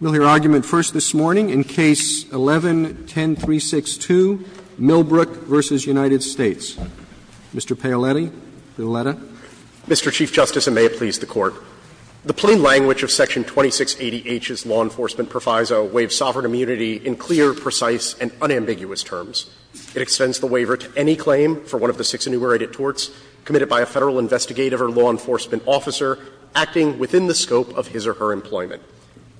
We'll hear argument first this morning in Case 11-10362, Millbrook v. United States. Mr. Paoletti, for the letter. Mr. Chief Justice, and may it please the Court. The plain language of Section 2680H's law enforcement proviso waives sovereign immunity in clear, precise, and unambiguous terms. It extends the waiver to any claim for one of the six enumerated torts committed by a Federal investigative or law enforcement officer acting within the scope of his or her employment.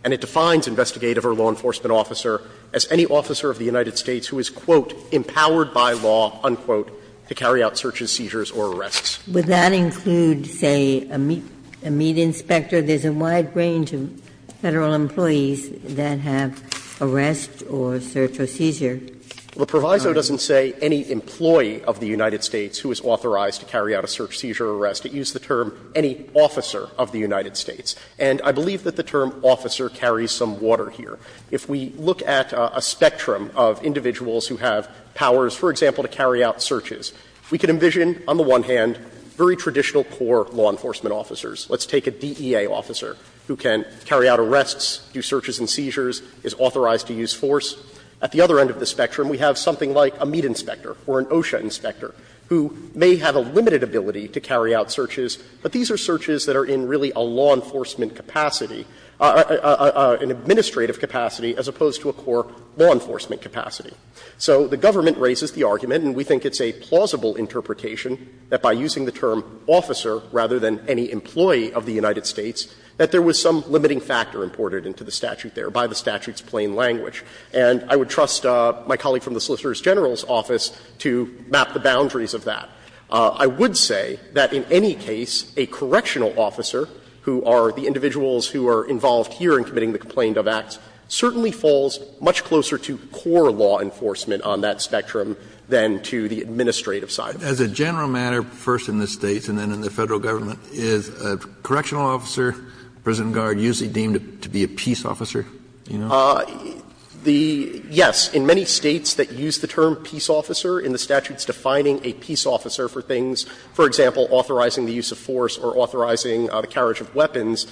And it defines investigative or law enforcement officer as any officer of the United States who is, quote, empowered by law, unquote, to carry out searches, seizures, or arrests. Ginsburg. Would that include, say, a meat inspector? There's a wide range of Federal employees that have arrests or search or seizure. Well, the proviso doesn't say any employee of the United States who is authorized to carry out a search, seizure, or arrest. It used the term any officer of the United States. And I believe that the term officer carries some water here. If we look at a spectrum of individuals who have powers, for example, to carry out searches, we can envision on the one hand very traditional core law enforcement officers. Let's take a DEA officer who can carry out arrests, do searches and seizures, is authorized to use force. At the other end of the spectrum, we have something like a meat inspector or an OSHA inspector who may have a limited ability to carry out searches, but these are searches that are in really a law enforcement capacity, an administrative capacity as opposed to a core law enforcement capacity. So the government raises the argument, and we think it's a plausible interpretation, that by using the term officer rather than any employee of the United States, that there was some limiting factor imported into the statute there by the statute's plain language. And I would trust my colleague from the Solicitor General's office to map the boundaries of that. I would say that in any case, a correctional officer, who are the individuals who are involved here in committing the Complaint of Acts, certainly falls much closer to core law enforcement on that spectrum than to the administrative side. Kennedy, as a general matter, first in the States and then in the Federal government, is a correctional officer, prison guard, usually deemed to be a peace officer? You know? Yes. In many States that use the term peace officer in the statutes defining a peace officer for things, for example, authorizing the use of force or authorizing the carriage of weapons,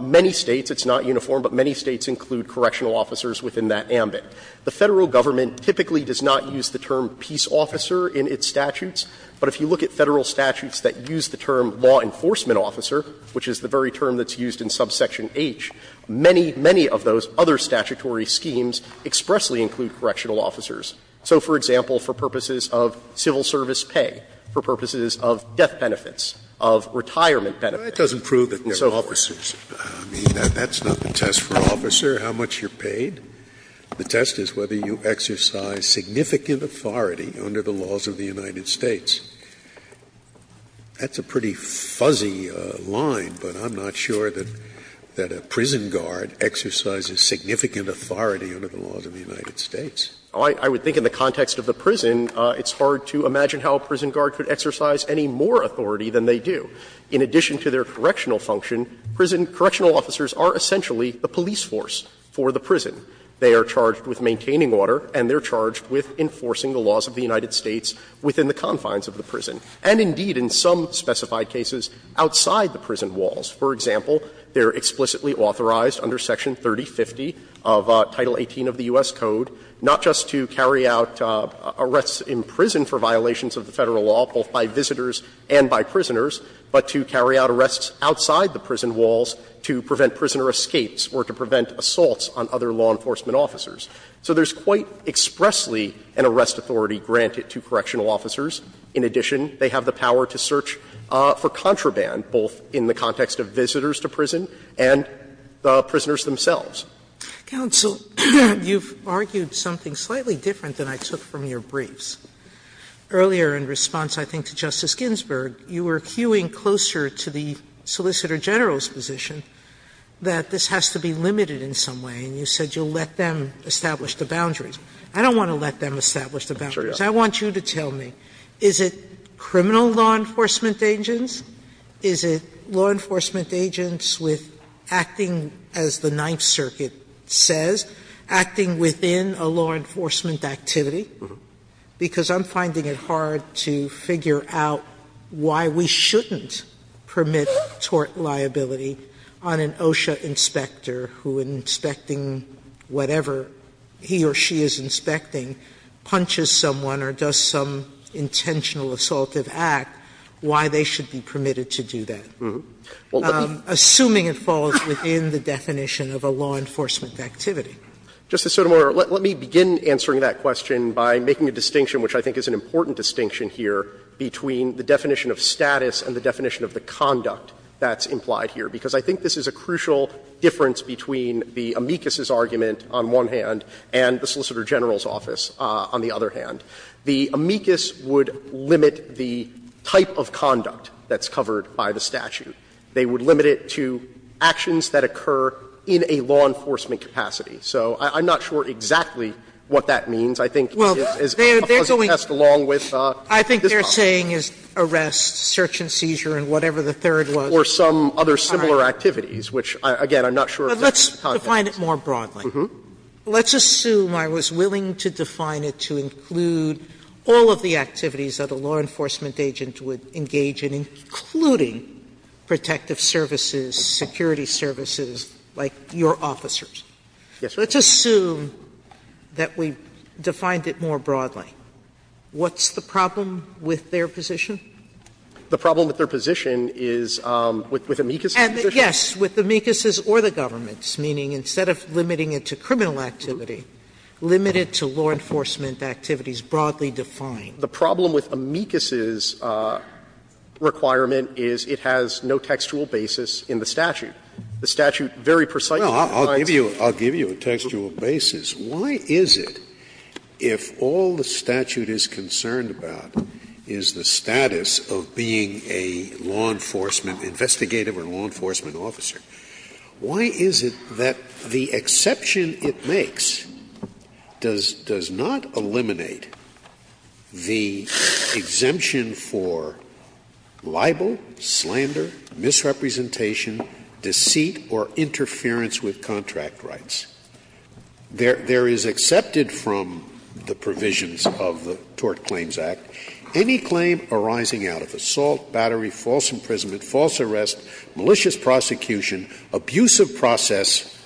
many States, it's not uniform, but many States include correctional officers within that ambit. The Federal government typically does not use the term peace officer in its statutes, but if you look at Federal statutes that use the term law enforcement officer, which is the very term that's used in subsection H, many, many of those other statutory schemes expressly include correctional officers. So, for example, for purposes of civil service pay, for purposes of death benefits, of retirement benefits. Scalia. Well, that doesn't prove that there are officers. I mean, that's not the test for an officer, how much you're paid. The test is whether you exercise significant authority under the laws of the United States. That's a pretty fuzzy line, but I'm not sure that a prison guard exercises significant authority under the laws of the United States. I would think in the context of the prison, it's hard to imagine how a prison guard could exercise any more authority than they do. In addition to their correctional function, prison correctional officers are essentially the police force for the prison. They are charged with maintaining order and they're charged with enforcing the laws of the United States within the confines of the prison. And indeed, in some specified cases, outside the prison walls. For example, they're explicitly authorized under Section 3050 of Title 18 of the U.S. Code not just to carry out arrests in prison for violations of the Federal law, both by visitors and by prisoners, but to carry out arrests outside the prison walls to prevent prisoner escapes or to prevent assaults on other law enforcement officers. So there's quite expressly an arrest authority granted to correctional officers. In addition, they have the power to search for contraband, both in the context of visitors to prison and the prisoners themselves. Sotomayor, you've argued something slightly different than I took from your briefs. Earlier, in response, I think, to Justice Ginsburg, you were hewing closer to the Solicitor General's position that this has to be limited in some way, and you said you'll let them establish the boundaries. I don't want to let them establish the boundaries. I want you to tell me, is it criminal law enforcement agents? Is it law enforcement agents with acting, as the Ninth Circuit says, acting within a law enforcement activity? Because I'm finding it hard to figure out why we shouldn't permit tort liability on an OSHA inspector who, in inspecting whatever he or she is inspecting, punches someone or does some intentional assaultive act, why they should be punished and why they shouldn't be permitted to do that, assuming it falls within the definition of a law enforcement activity. Justice Sotomayor, let me begin answering that question by making a distinction, which I think is an important distinction here, between the definition of status and the definition of the conduct that's implied here, because I think this is a crucial difference between the amicus's argument on one hand and the Solicitor General's office on the other hand. The amicus would limit the type of conduct that's covered by the statute. They would limit it to actions that occur in a law enforcement capacity. So I'm not sure exactly what that means. I think it's a concept passed along with this concept. Sotomayor, I think they're saying is arrest, search and seizure and whatever the third was. Or some other similar activities, which, again, I'm not sure of the context. Sotomayor, but let's define it more broadly. Let's assume I was willing to define it to include. All of the activities that a law enforcement agent would engage in, including protective services, security services like your officers. Let's assume that we defined it more broadly. What's the problem with their position? The problem with their position is with amicus's position? Yes, with amicus's or the government's, meaning instead of limiting it to criminal activity, limit it to law enforcement activities, broadly defined. The problem with amicus's requirement is it has no textual basis in the statute. The statute very precisely defines it. Scalia, I'll give you a textual basis. Why is it, if all the statute is concerned about is the status of being a law enforcement officer, why is it that the exception it makes does not eliminate the exemption for libel, slander, misrepresentation, deceit, or interference with contract rights? There is accepted from the provisions of the Tort Claims Act any claim arising out of assault, battery, false imprisonment, false arrest, malicious prosecution, abusive process,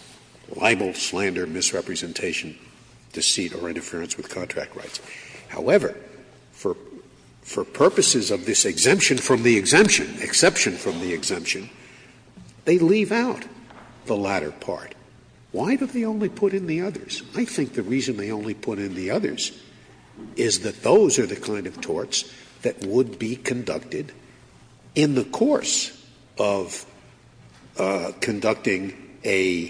libel, slander, misrepresentation, deceit, or interference with contract rights. However, for purposes of this exemption from the exemption, exception from the exemption, they leave out the latter part. Why do they only put in the others? I think the reason they only put in the others is that those are the kind of torts that would be conducted in the course of conducting a,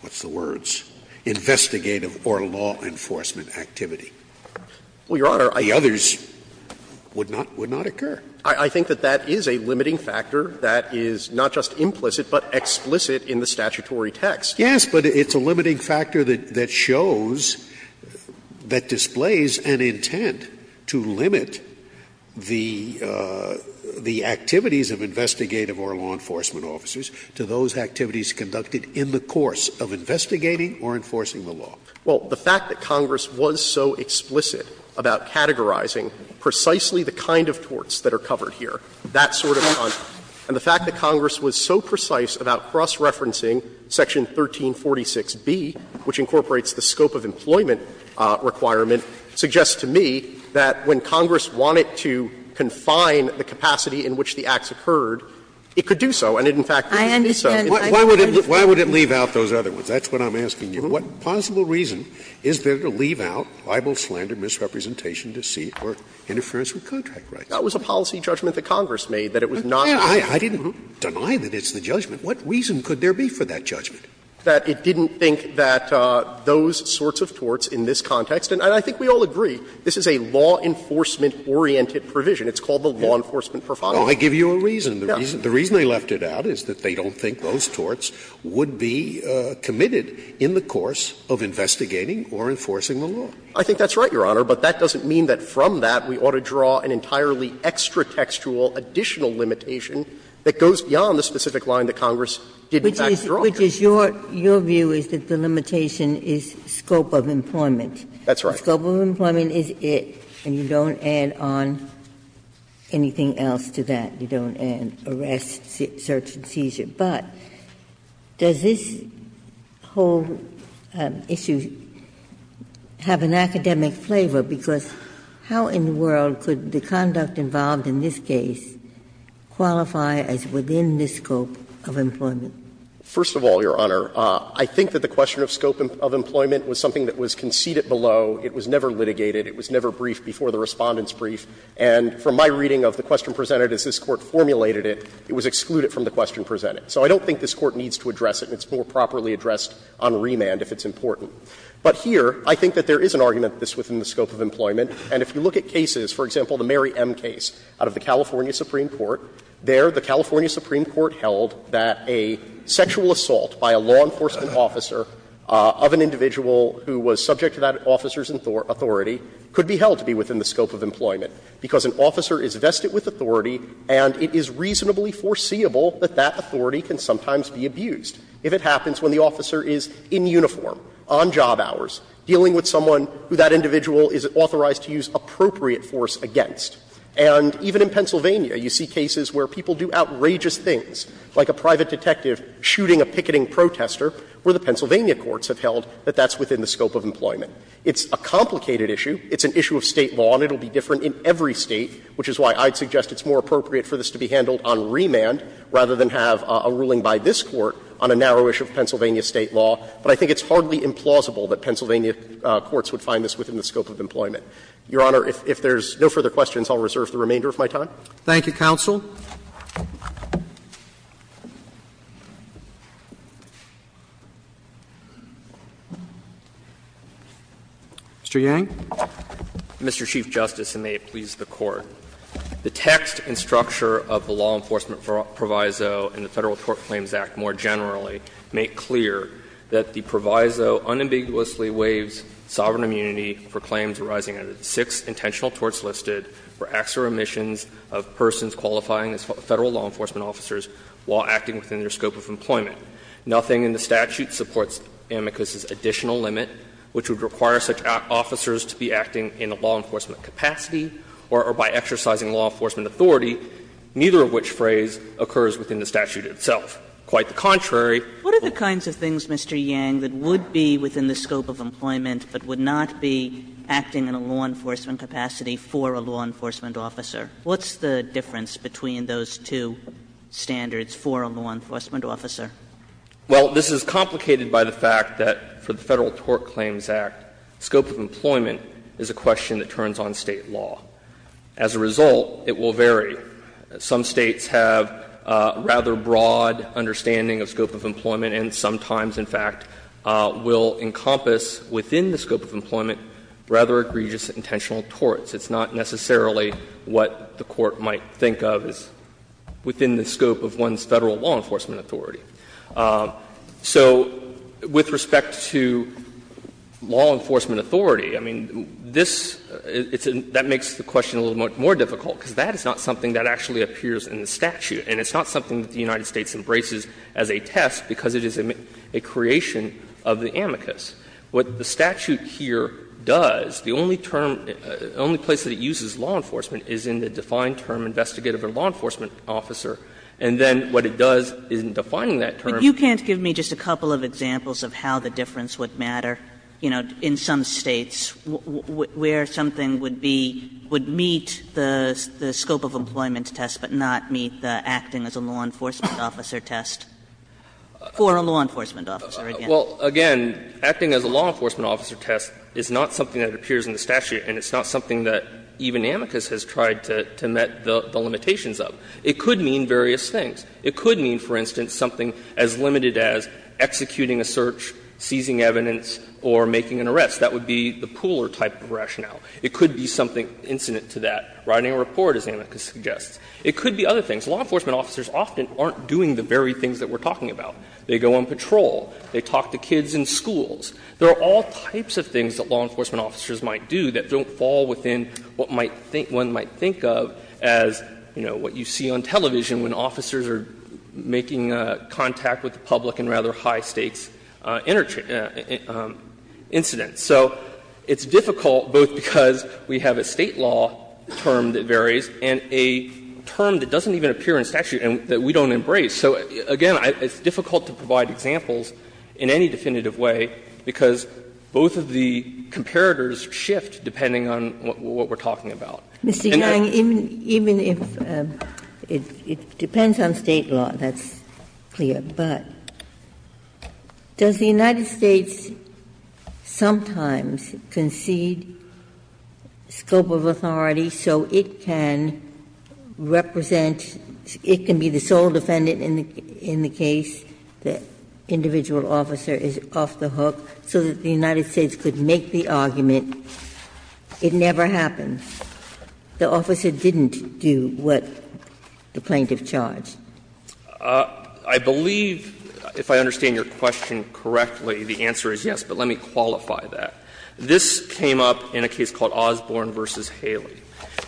what's the words, investigative or law enforcement activity. The others would not occur. I think that that is a limiting factor that is not just implicit, but explicit in the statutory text. Yes, but it's a limiting factor that shows, that displays an intent to limit the activities of investigative or law enforcement officers to those activities conducted in the course of investigating or enforcing the law. Well, the fact that Congress was so explicit about categorizing precisely the kind of torts that are covered here, that sort of content, and the fact that Congress was so precise about cross-referencing Section 1346B, which incorporates the scope of employment requirement, suggests to me that when Congress wanted to confine the capacity in which the acts occurred, it could do so, and it in fact did do so. Why would it leave out those other ones? That's what I'm asking you. What possible reason is there to leave out libel, slander, misrepresentation, deceit, or interference with contract rights? That was a policy judgment that Congress made, that it was not. Scalia, I didn't deny that it's the judgment. What reason could there be for that judgment? That it didn't think that those sorts of torts in this context, and I think we all agree, this is a law enforcement-oriented provision. It's called the law enforcement profiling. I give you a reason. The reason they left it out is that they don't think those torts would be committed in the course of investigating or enforcing the law. I think that's right, Your Honor, but that doesn't mean that from that we ought to draw an entirely extra-textual, additional limitation that goes beyond the specific line that Congress did in fact draw. Ginsburg. Which is your view is that the limitation is scope of employment. That's right. The scope of employment is it, and you don't add on anything else to that. You don't add arrest, search, and seizure. But does this whole issue have an academic flavor? Because how in the world could the conduct involved in this case qualify as within the scope of employment? First of all, Your Honor, I think that the question of scope of employment was something that was conceded below. It was never litigated. It was never briefed before the Respondent's brief. And from my reading of the question presented as this Court formulated it, it was excluded from the question presented. So I don't think this Court needs to address it. It's more properly addressed on remand if it's important. But here, I think that there is an argument that this is within the scope of employment. And if you look at cases, for example, the Mary M. case out of the California Supreme Court, there the California Supreme Court held that a sexual assault by a law enforcement officer of an individual who was subject to that officer's authority could be held to be within the scope of employment, because an officer is vested with authority and it is reasonably foreseeable that that authority can sometimes be abused if it happens when the officer is in uniform, on duty, on job hours, dealing with someone who that individual is authorized to use appropriate force against. And even in Pennsylvania, you see cases where people do outrageous things, like a private detective shooting a picketing protester, where the Pennsylvania courts have held that that's within the scope of employment. It's a complicated issue. It's an issue of State law and it will be different in every State, which is why I'd suggest it's more appropriate for this to be handled on remand rather than have a ruling by this Court on a narrow issue of Pennsylvania State law. But I think it's hardly implausible that Pennsylvania courts would find this within the scope of employment. Your Honor, if there's no further questions, I'll reserve the remainder of my time. Roberts. Thank you, counsel. Mr. Yang. Mr. Chief Justice, and may it please the Court. The text and structure of the law enforcement proviso in the Federal Tort Claims Act, more generally, make clear that the proviso unambiguously waives sovereign immunity for claims arising out of the six intentional torts listed for acts or omissions of persons qualifying as Federal law enforcement officers while acting within their scope of employment. Nothing in the statute supports amicus's additional limit, which would require such officers to be acting in a law enforcement capacity or by exercising law enforcement authority, neither of which phrase occurs within the statute itself. Quite the contrary. What are the kinds of things, Mr. Yang, that would be within the scope of employment but would not be acting in a law enforcement capacity for a law enforcement officer? What's the difference between those two standards for a law enforcement officer? Well, this is complicated by the fact that for the Federal Tort Claims Act, scope of employment is a question that turns on State law. As a result, it will vary. Some States have a rather broad understanding of scope of employment and sometimes, in fact, will encompass within the scope of employment rather egregious intentional torts. It's not necessarily what the Court might think of as within the scope of one's Federal law enforcement authority. So with respect to law enforcement authority, I mean, this — that makes the question a little more difficult, because that is not something that actually appears in the statute. And it's not something that the United States embraces as a test, because it is a creation of the amicus. What the statute here does, the only term, the only place that it uses law enforcement is in the defined term, investigative or law enforcement officer. And then what it does is, in defining that term… But you can't give me just a couple of examples of how the difference would matter, you know, in some States, where something would be — would meet the scope of employment test but not meet the acting as a law enforcement officer test for a law enforcement officer. Well, again, acting as a law enforcement officer test is not something that appears in the statute, and it's not something that even amicus has tried to met the limitations of. It could mean various things. It could mean making evidence or making an arrest. That would be the pooler type of rationale. It could be something incident to that, writing a report, as amicus suggests. It could be other things. Law enforcement officers often aren't doing the very things that we're talking about. They go on patrol. They talk to kids in schools. There are all types of things that law enforcement officers might do that don't fall within what might think — one might think of as, you know, what you see on television when officers are making contact with the public in rather high-stakes incidents. So it's difficult, both because we have a State law term that varies and a term that doesn't even appear in statute and that we don't embrace. So, again, it's difficult to provide examples in any definitive way because both of the comparators shift depending on what we're talking about. Ginsburg. Mr. Young, even if — it depends on State law, that's clear. But does the United States sometimes concede scope of authority so it can represent — it can be the sole defendant in the case, the individual officer is off the hook so that the United States could make the argument, it never happens? The officer didn't do what the plaintiff charged. Young, I believe, if I understand your question correctly, the answer is yes, but let me qualify that. This came up in a case called Osborne v. Haley.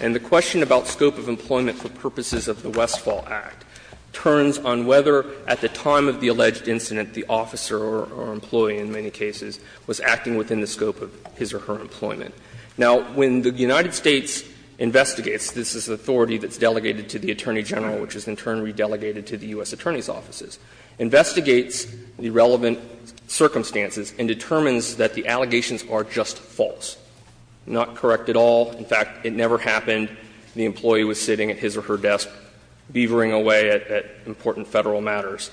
And the question about scope of employment for purposes of the Westfall Act turns on whether at the time of the alleged incident the officer or employee in many cases was acting within the scope of his or her employment. Now, when the United States investigates, this is authority that's delegated to the Attorney General, which is in turn re-delegated to the U.S. Attorney's offices, investigates the relevant circumstances and determines that the allegations are just false, not correct at all. In fact, it never happened. The employee was sitting at his or her desk beavering away at important Federal matters.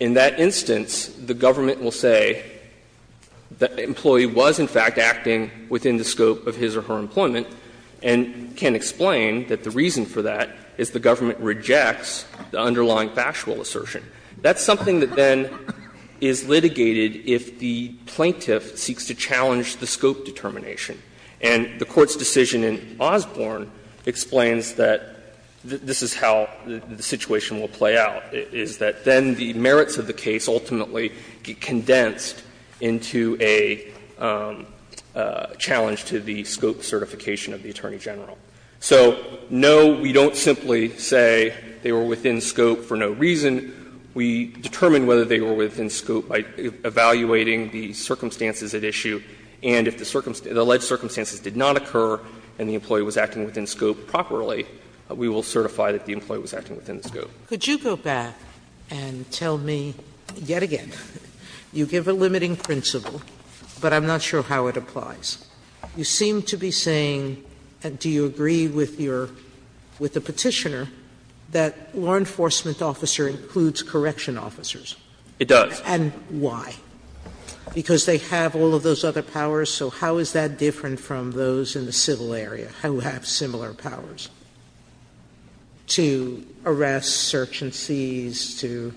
In that instance, the government will say that the employee was in fact acting within the scope of his or her employment and can explain that the reason for that is the government rejects the underlying factual assertion. That's something that then is litigated if the plaintiff seeks to challenge the scope determination. And the Court's decision in Osborne explains that this is how the situation will be challenged to the scope certification of the Attorney General. So, no, we don't simply say they were within scope for no reason. We determine whether they were within scope by evaluating the circumstances at issue, and if the alleged circumstances did not occur and the employee was acting within scope properly, we will certify that the employee was acting within the scope. Sotomayor, could you go back and tell me yet again, you give a limiting principle, but I'm not sure how it applies. You seem to be saying, and do you agree with your, with the Petitioner, that law enforcement officer includes correction officers? It does. And why? Because they have all of those other powers, so how is that different from those in the civil area who have similar powers to arrest, search and seize, to?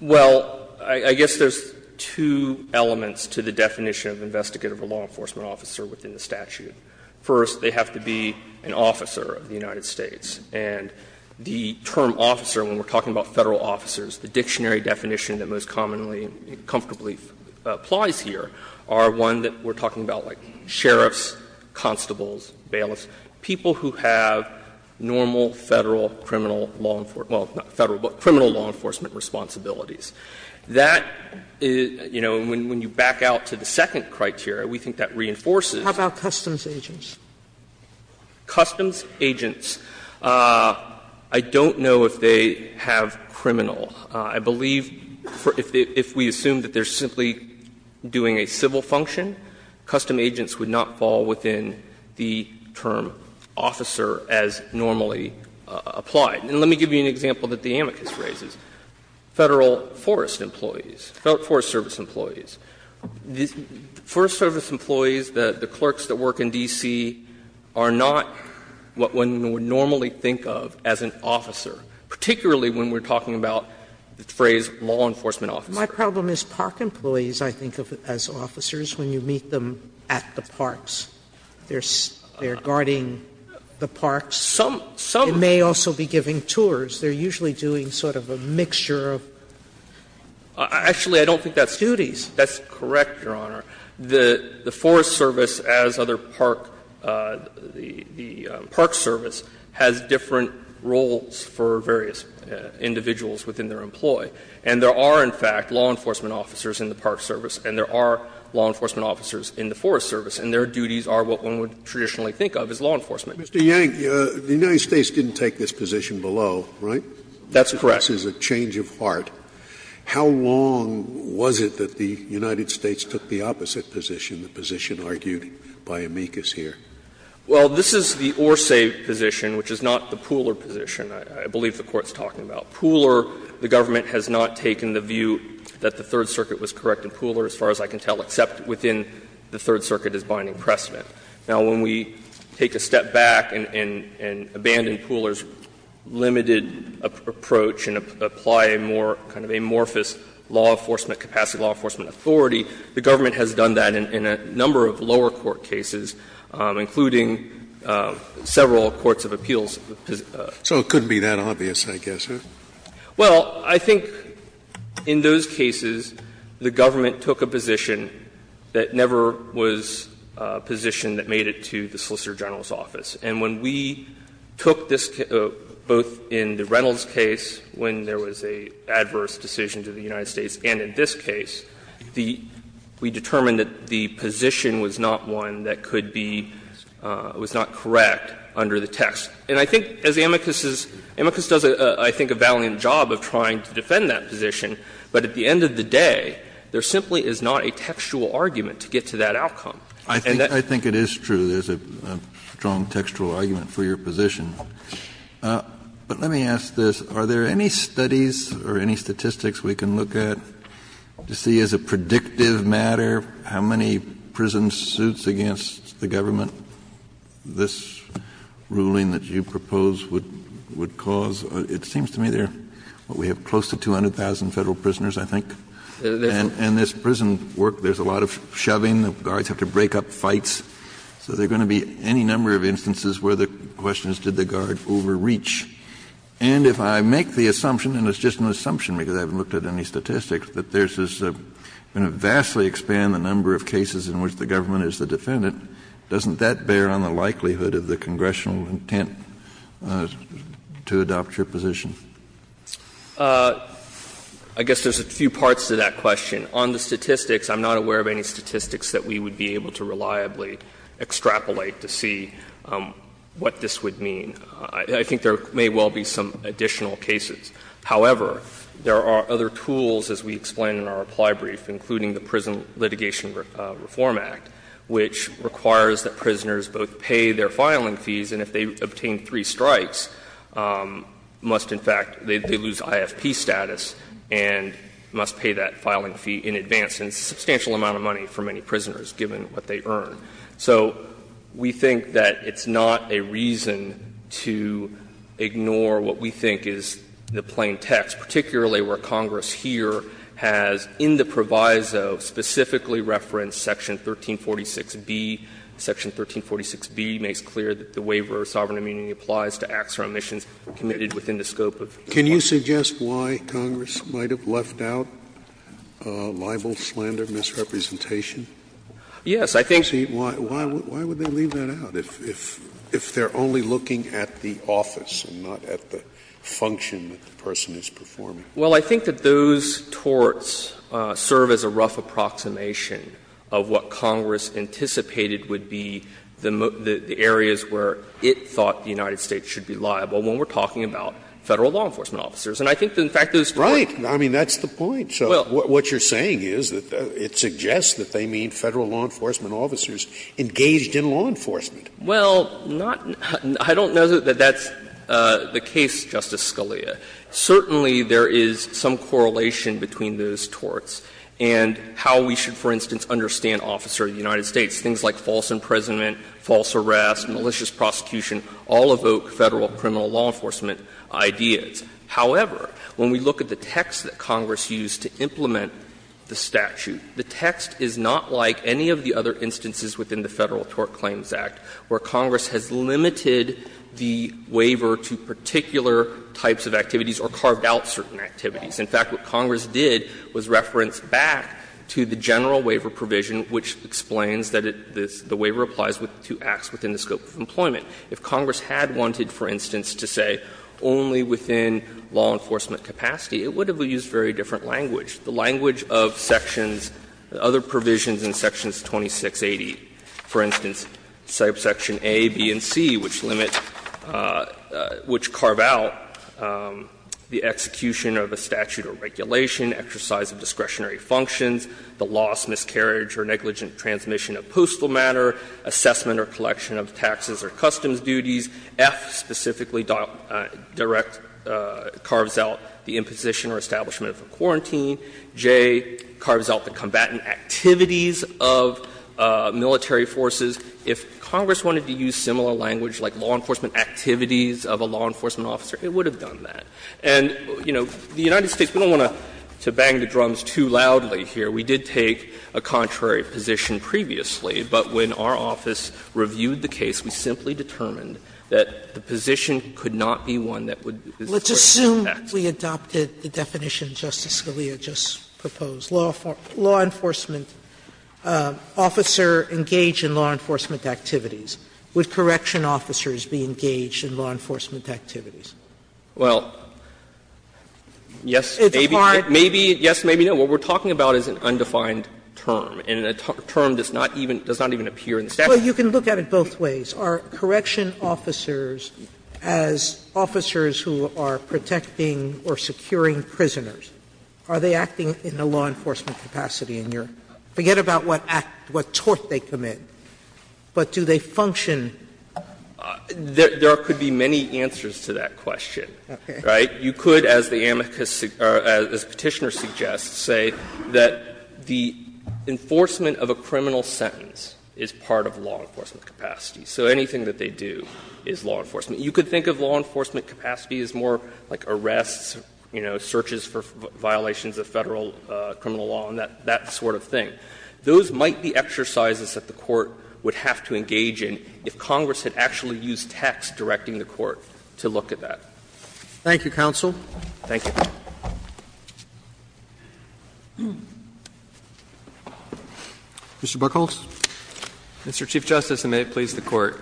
Well, I guess there's two elements to the definition of investigative or law enforcement officer within the statute. First, they have to be an officer of the United States. And the term officer, when we're talking about Federal officers, the dictionary definition that most commonly, comfortably applies here are one that we're talking about, like sheriffs, constables, bailiffs, people who have normal Federal criminal law enforcement, well, not Federal, but criminal law enforcement responsibilities. That is, you know, when you back out to the second criteria, we think that reinforces. How about customs agents? Customs agents, I don't know if they have criminal. I believe if we assume that they're simply doing a civil function, custom agents would not fall within the term officer as normally applied. And let me give you an example that the amicus raises, Federal forest employees, Forest Service employees. Forest Service employees, the clerks that work in D.C., are not what one would normally think of as an officer, particularly when we're talking about the phrase law enforcement officer. Sotomayor, my problem is park employees, I think, as officers, when you meet them at the parks, they're guarding the parks. Some, some. And they're also be giving tours. They're usually doing sort of a mixture of. Actually, I don't think that's duties. That's correct, Your Honor. The Forest Service, as other park, the Park Service, has different roles for various individuals within their employ. And there are, in fact, law enforcement officers in the Park Service, and there are law enforcement officers in the Forest Service, and their duties are what one would traditionally think of as law enforcement. Scalia, Mr. Yang, the United States didn't take this position below, right? That's correct. This is a change of heart. How long was it that the United States took the opposite position, the position argued by amicus here? Well, this is the or-se position, which is not the Pooler position, I believe the Court's talking about. Pooler, the government has not taken the view that the Third Circuit was correct in Pooler, as far as I can tell, except within the Third Circuit as binding precedent. Now, when we take a step back and abandon Pooler's limited approach and apply a more kind of amorphous law enforcement capacity, law enforcement authority, the government has done that in a number of lower court cases, including several courts of appeals. So it couldn't be that obvious, I guess, right? Well, I think in those cases, the government took a position that never was positioned that made it to the Solicitor General's office. And when we took this, both in the Reynolds case, when there was an adverse decision to the United States, and in this case, we determined that the position was not one that could be, was not correct under the text. And I think as amicus is, amicus does, I think, a valiant job of trying to defend that position, but at the end of the day, there simply is not a textual argument to get to that outcome. And that's why I think it is true there's a strong textual argument for your position. But let me ask this. Are there any studies or any statistics we can look at to see, as a predictive matter, how many prison suits against the government this ruling that you propose would cause? It seems to me there are close to 200,000 Federal prisoners, I think. And this prison work, there's a lot of shoving. The guards have to break up fights. So there are going to be any number of instances where the question is, did the guard overreach? And if I make the assumption, and it's just an assumption because I haven't looked at any statistics, that this is going to vastly expand the number of cases in which the government is the defendant, doesn't that bear on the likelihood of the congressional intent to adopt your position? I guess there's a few parts to that question. On the statistics, I'm not aware of any statistics that we would be able to reliably extrapolate to see what this would mean. I think there may well be some additional cases. However, there are other tools, as we explained in our reply brief, including the Prison Litigation Reform Act, which requires that prisoners both pay their filing fees, and if they obtain three strikes, must in fact, they lose IFP status, and must pay that filing fee in advance, and it's a substantial amount of money for many prisoners, given what they earn. So we think that it's not a reason to ignore what we think is the plain text, particularly where Congress here has, in the proviso, specifically referenced Section 1346B. Section 1346B makes clear that the waiver of sovereign immunity applies to acts or omissions committed within the scope of the law. Can you suggest why Congress might have left out libel, slander, misrepresentation? Yes, I think so. Why would they leave that out, if they're only looking at the office and not at the function that the person is performing? Well, I think that those torts serve as a rough approximation of what Congress anticipated would be the areas where it thought the United States should be liable when we're talking about Federal law enforcement officers. And I think, in fact, those torts are not. Scalia, I mean, that's the point. So what you're saying is that it suggests that they mean Federal law enforcement officers engaged in law enforcement. Well, not — I don't know that that's the case, Justice Scalia. Certainly, there is some correlation between those torts and how we should, for instance, understand officer of the United States. Things like false imprisonment, false arrest, malicious prosecution all evoke Federal criminal law enforcement ideas. However, when we look at the text that Congress used to implement the statute, the text is not like any of the other instances within the Federal Tort Claims Act where Congress has limited the waiver to particular types of activities or carved out certain activities. In fact, what Congress did was reference back to the general waiver provision, which explains that it — the waiver applies to acts within the scope of employment. If Congress had wanted, for instance, to say only within law enforcement capacity, it would have used very different language, the language of Sections — other provisions in Sections 2680, for instance, Section A, B, and C, which limit — which carve out the execution of a statute or regulation, exercise of discretionary functions, the loss, miscarriage, or negligent transmission of postal matter, assessment or collection of taxes or customs duties, F specifically direct — carves out the imposition or establishment of a quarantine, J carves out the combatant activities of military forces. If Congress wanted to use similar language, like law enforcement activities of a law enforcement officer, it would have done that. And, you know, the United States, we don't want to bang the drums too loudly here. We did take a contrary position previously, but when our office reviewed the case, we simply determined that the position could not be one that would — Sotomayor Let's assume we adopted the definition Justice Scalia just proposed. Law enforcement officer engaged in law enforcement activities. Would correction officers be engaged in law enforcement activities? Well, yes, maybe. Sotomayor It's a hard question. I mean, the definition of a correction officer is an undefined term, and a term does not even appear in the statute. Sotomayor Well, you can look at it both ways. Are correction officers, as officers who are protecting or securing prisoners, are they acting in a law enforcement capacity? Forget about what tort they commit, but do they function? There could be many answers to that question. Sotomayor Okay. You could, as the amicus — or as Petitioner suggests, say that the enforcement of a criminal sentence is part of law enforcement capacity, so anything that they do is law enforcement. You could think of law enforcement capacity as more like arrests, you know, searches for violations of Federal criminal law and that sort of thing. Those might be exercises that the Court would have to engage in if Congress had actually used text directing the Court to look at that. Roberts Thank you, counsel. Thank you. Mr. Buchholz. Mr. Chief Justice, and may it please the Court,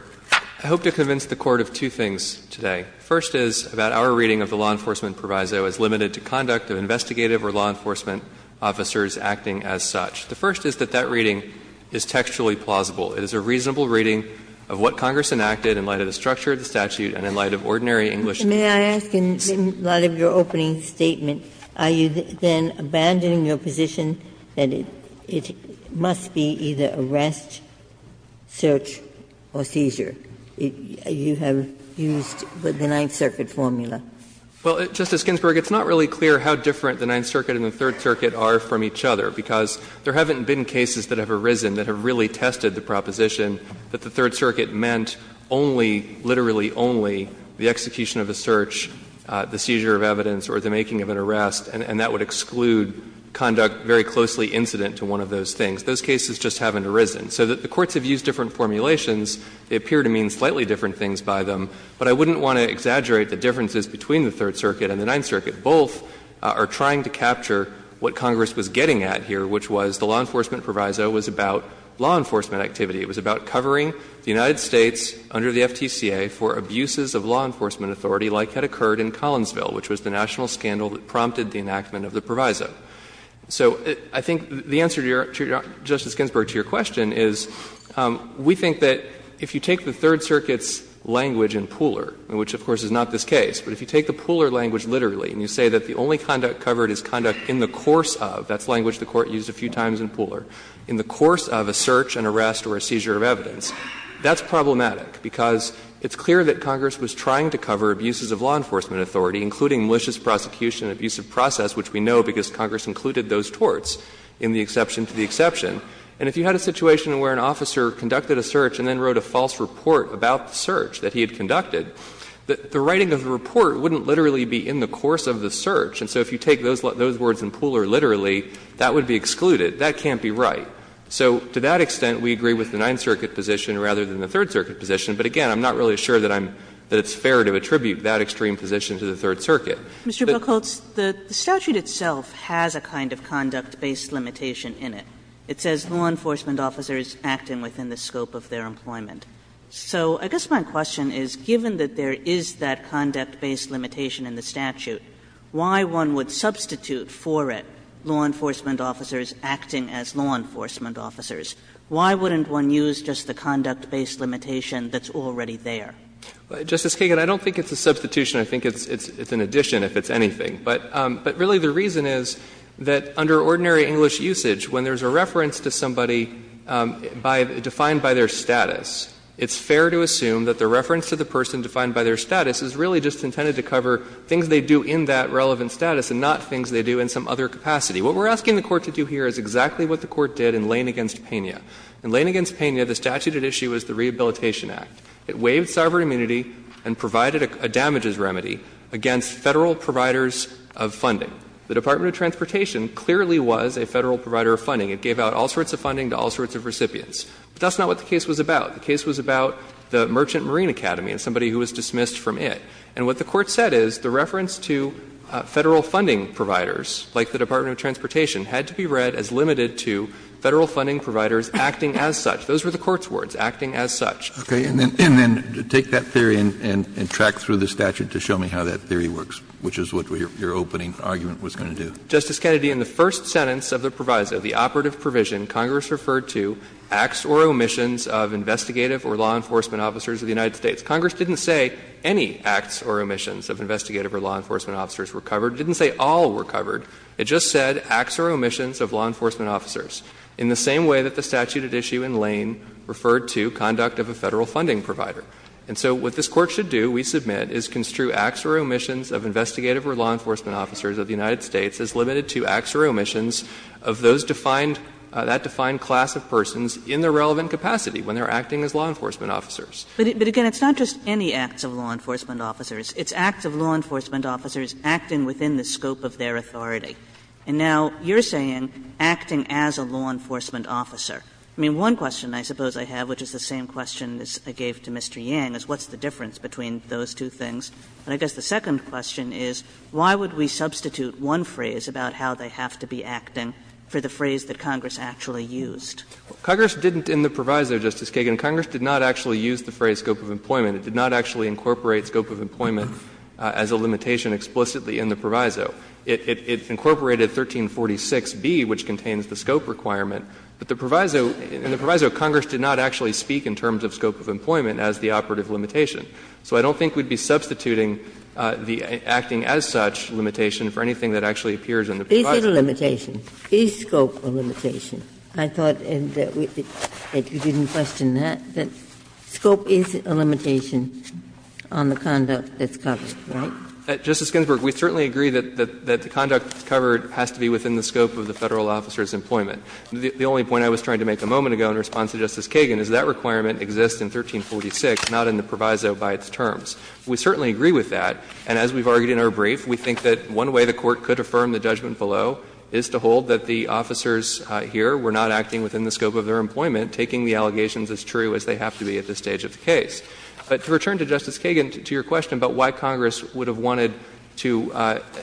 I hope to convince the Court of two things today. The first is that our reading of the law enforcement proviso is limited to conduct of investigative or law enforcement officers acting as such. The first is that that reading is textually plausible. It is a reasonable reading of what Congress enacted in light of the structure of the statute and in light of ordinary English. Ginsburg May I ask, in light of your opening statement, are you then abandoning your position that it must be either arrest, search or seizure? You have used the Ninth Circuit formula. Buchholz Well, Justice Ginsburg, it's not really clear how different the Ninth Circuit and the Third Circuit are from each other, because there haven't been cases that have arisen that have really tested the proposition that the Third Circuit meant only, literally only, the execution of a search, the seizure of evidence or the making of an arrest, and that would exclude conduct very closely incident to one of those things. Those cases just haven't arisen. So the courts have used different formulations. They appear to mean slightly different things by them. But I wouldn't want to exaggerate the differences between the Third Circuit and the Ninth Circuit. Both are trying to capture what Congress was getting at here, which was the law enforcement proviso was about law enforcement activity. It was about covering the United States under the FTCA for abuses of law enforcement authority like had occurred in Collinsville, which was the national scandal that prompted the enactment of the proviso. So I think the answer to your question, Justice Ginsburg, to your question is we think that if you take the Third Circuit's language in Pooler, which of course is not this case, but if you take the Pooler language literally and you say that the only conduct covered is conduct in the course of, that's language the Court used a few times in the seizure of evidence, that's problematic, because it's clear that Congress was trying to cover abuses of law enforcement authority, including malicious prosecution and abusive process, which we know because Congress included those torts in the exception to the exception. And if you had a situation where an officer conducted a search and then wrote a false report about the search that he had conducted, the writing of the report wouldn't literally be in the course of the search. And so if you take those words in Pooler literally, that would be excluded. That can't be right. So to that extent, we agree with the Ninth Circuit position rather than the Third Circuit position. But again, I'm not really sure that I'm — that it's fair to attribute that extreme position to the Third Circuit. But the statute itself has a kind of conduct-based limitation in it. It says law enforcement officers acting within the scope of their employment. So I guess my question is, given that there is that conduct-based limitation in the statute, why one would substitute for it law enforcement officers acting as law enforcement officers? Why wouldn't one use just the conduct-based limitation that's already there? Justice Kagan, I don't think it's a substitution. I think it's an addition, if it's anything. But really the reason is that under ordinary English usage, when there's a reference to somebody by — defined by their status, it's fair to assume that the reference to the person defined by their status is really just intended to cover things they do in that relevant status and not things they do in some other capacity. What we're asking the Court to do here is exactly what the Court did in Lane v. Pena. In Lane v. Pena, the statute at issue is the Rehabilitation Act. It waived sovereign immunity and provided a damages remedy against Federal providers of funding. The Department of Transportation clearly was a Federal provider of funding. It gave out all sorts of funding to all sorts of recipients. But that's not what the case was about. The case was about the Merchant Marine Academy and somebody who was dismissed from it. And what the Court said is the reference to Federal funding providers, like the Department of Transportation, had to be read as limited to Federal funding providers acting as such. Those were the Court's words, acting as such. Kennedy, and then take that theory and track through the statute to show me how that theory works, which is what your opening argument was going to do. Justice Kennedy, in the first sentence of the proviso, the operative provision, Congress referred to acts or omissions of investigative or law enforcement officers of the United States. Congress didn't say any acts or omissions of investigative or law enforcement officers were covered. It didn't say all were covered. It just said acts or omissions of law enforcement officers, in the same way that the statute at issue in Lane referred to conduct of a Federal funding provider. And so what this Court should do, we submit, is construe acts or omissions of investigative or law enforcement officers of the United States as limited to acts or omissions of those defined, that defined class of persons in the relevant capacity when they are acting as law enforcement officers. But again, it's not just any acts of law enforcement officers. It's acts of law enforcement officers acting within the scope of their authority. And now you're saying acting as a law enforcement officer. I mean, one question I suppose I have, which is the same question I gave to Mr. Yang, is what's the difference between those two things? And I guess the second question is, why would we substitute one phrase about how they have to be acting for the phrase that Congress actually used? Congress didn't in the proviso, Justice Kagan, Congress did not actually use the phrase scope of employment. It did not actually incorporate scope of employment as a limitation explicitly in the proviso. It incorporated 1346b, which contains the scope requirement, but the proviso of Congress did not actually speak in terms of scope of employment as the operative limitation. So I don't think we'd be substituting the acting as such limitation for anything that actually appears in the proviso. Ginsburg. Is it a limitation? Is scope a limitation? I thought that you didn't question that, that scope is a limitation on the conduct that's covered, right? Justice Ginsburg, we certainly agree that the conduct that's covered has to be within the scope of the Federal officer's employment. The only point I was trying to make a moment ago in response to Justice Kagan is that requirement exists in 1346, not in the proviso by its terms. We certainly agree with that, and as we've argued in our brief, we think that one way the Court could affirm the judgment below is to hold that the officers here were not acting within the scope of their employment, taking the allegations as true as they have to be at this stage of the case. But to return to Justice Kagan, to your question about why Congress would have wanted to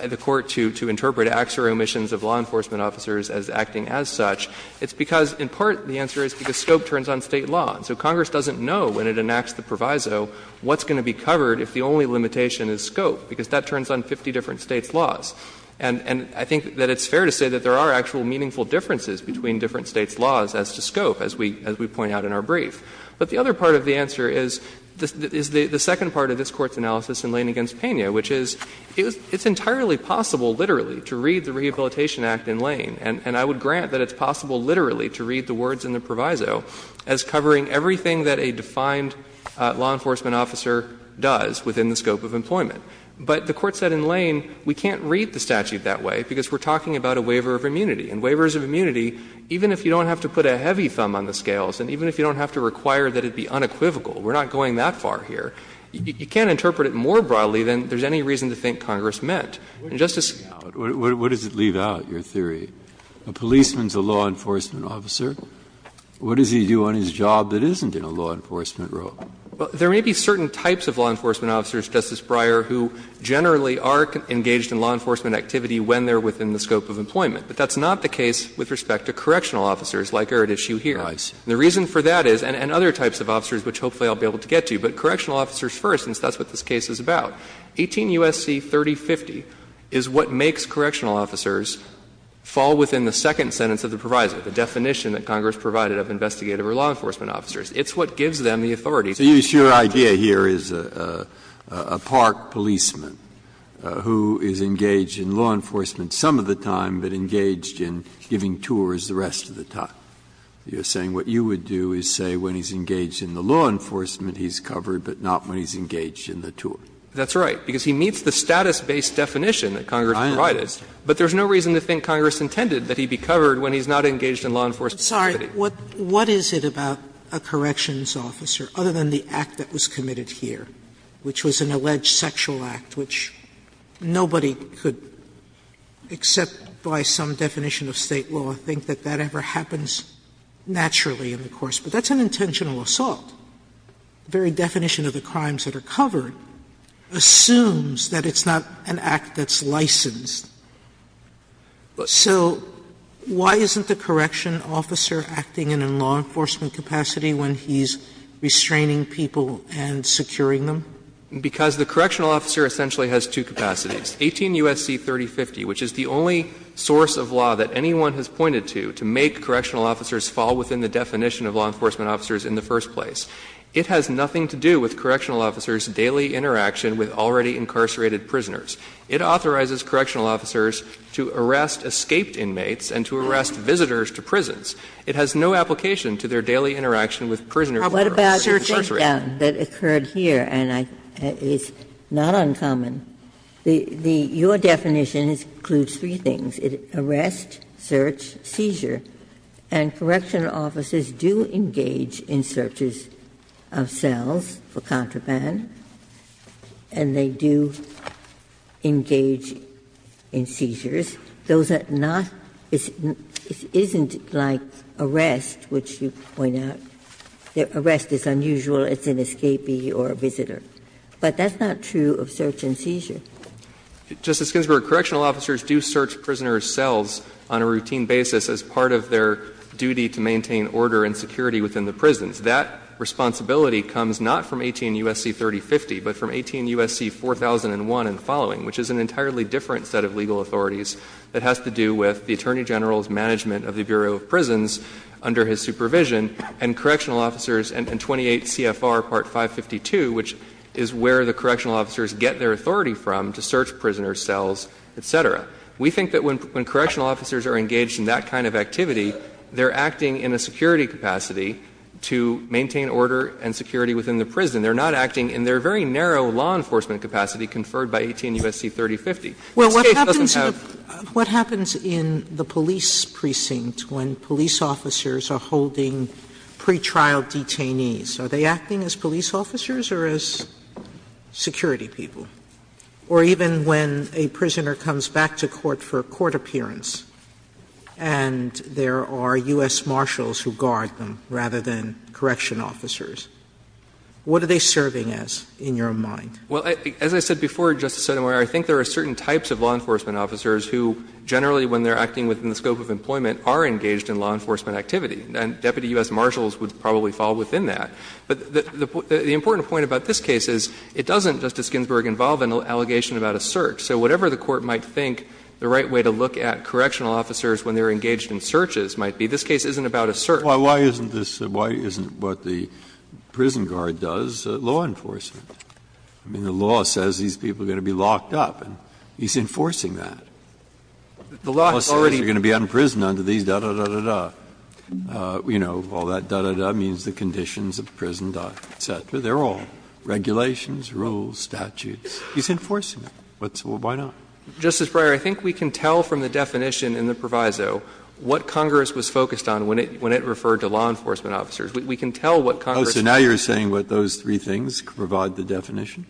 the Court to interpret acts or omissions of law enforcement officers as acting as such, it's because in part the answer is because scope turns on State law. So Congress doesn't know when it enacts the proviso what's going to be covered if the only limitation is scope, because that turns on 50 different States' laws. And I think that it's fair to say that there are actual meaningful differences between different States' laws as to scope, as we point out in our brief. But the other part of the answer is the second part of this Court's analysis in Lane v. Pena, which is it's entirely possible, literally, to read the Rehabilitation Act in Lane, and I would grant that it's possible, literally, to read the words in the proviso as covering everything that a defined law enforcement officer does. But the Court said in Lane, we can't read the statute that way, because we're talking about a waiver of immunity, and waivers of immunity, even if you don't have to put a heavy thumb on the scales, and even if you don't have to require that it be unequivocal, we're not going that far here, you can't interpret it more broadly than there's any reason to think Congress meant. And, Justice Breyer. Breyer, what does it leave out, your theory? A policeman is a law enforcement officer. What does he do on his job that isn't in a law enforcement role? Well, there may be certain types of law enforcement officers, Justice Breyer, who generally are engaged in law enforcement activity when they're within the scope of employment, but that's not the case with respect to correctional officers like are at issue here. And the reason for that is, and other types of officers, which hopefully I'll be able to get to, but correctional officers first, since that's what this case is about. 18 U.S.C. 3050 is what makes correctional officers fall within the second sentence of the proviso, the definition that Congress provided of investigative or law enforcement officers. It's what gives them the authority. So your idea here is a park policeman who is engaged in law enforcement some of the time, but engaged in giving tours the rest of the time. You're saying what you would do is say when he's engaged in the law enforcement, he's covered, but not when he's engaged in the tour. That's right, because he meets the status-based definition that Congress provided. But there's no reason to think Congress intended that he be covered when he's not engaged in law enforcement activity. Sotomayor, what is it about a corrections officer, other than the act that was committed here, which was an alleged sexual act, which nobody could, except by some definition of State law, think that that ever happens naturally in the course. But that's an intentional assault. The very definition of the crimes that are covered assumes that it's not an act that's licensed. So why isn't the correction officer acting in a law enforcement capacity when he's restraining people and securing them? Because the correctional officer essentially has two capacities, 18 U.S.C. 3050, which is the only source of law that anyone has pointed to, to make correctional officers fall within the definition of law enforcement officers in the first place. It has nothing to do with correctional officers' daily interaction with already incarcerated prisoners. It authorizes correctional officers to arrest escaped inmates and to arrest visitors to prisons. It has no application to their daily interaction with prisoners who are searching the prison. Ginsburg. What about the breakdown that occurred here, and I think it's not uncommon? Your definition includes three things, arrest, search, seizure. And correctional officers do engage in searches of cells for contraband, and they do engage in seizures. Those are not — it isn't like arrest, which you point out, that arrest is unusual, it's an escapee or a visitor. But that's not true of search and seizure. Justice Ginsburg, correctional officers do search prisoners' cells on a routine basis as part of their duty to maintain order and security within the prisons. That responsibility comes not from 18 U.S.C. 3050, but from 18 U.S.C. 4001 and following, which is an entirely different set of legal authorities that has to do with the Attorney General's management of the Bureau of Prisons under his supervision and correctional officers and 28 CFR Part 552, which is where the correctional officers get their authority from to search prisoners' cells, et cetera. We think that when correctional officers are engaged in that kind of activity, they're acting in a security capacity to maintain order and security within the prison. They're not acting in their very narrow law enforcement capacity conferred by 18 U.S.C. 3050. Sotomayor says it doesn't have that. Sotomayor what happens in the police precincts when police officers are holding pretrial detainees, are they acting as police officers or as security people? Or even when a prisoner comes back to court for a court appearance, and there are U.S. marshals who guard them rather than correctional officers, what are they serving as in your mind? Well, as I said before, Justice Sotomayor, I think there are certain types of law enforcement officers who generally when they're acting within the scope of employment are engaged in law enforcement activity. And deputy U.S. marshals would probably fall within that. But the important point about this case is it doesn't, Justice Ginsburg, involve an allegation about a search. So whatever the Court might think the right way to look at correctional officers when they're engaged in searches might be, this case isn't about a search. Why isn't this, why isn't what the prison guard does law enforcement? I mean, the law says these people are going to be locked up, and he's enforcing that. The law says they're going to be unprisoned under these da-da-da-da-da. You know, all that da-da-da means the conditions of prison, et cetera. They're all regulations, rules, statutes. He's enforcing it. Why not? Justice Breyer, I think we can tell from the definition in the proviso what Congress was focused on when it, when it referred to law enforcement officers. We can tell what Congress was focused on. Oh, so now you're saying what those three things provide the definition?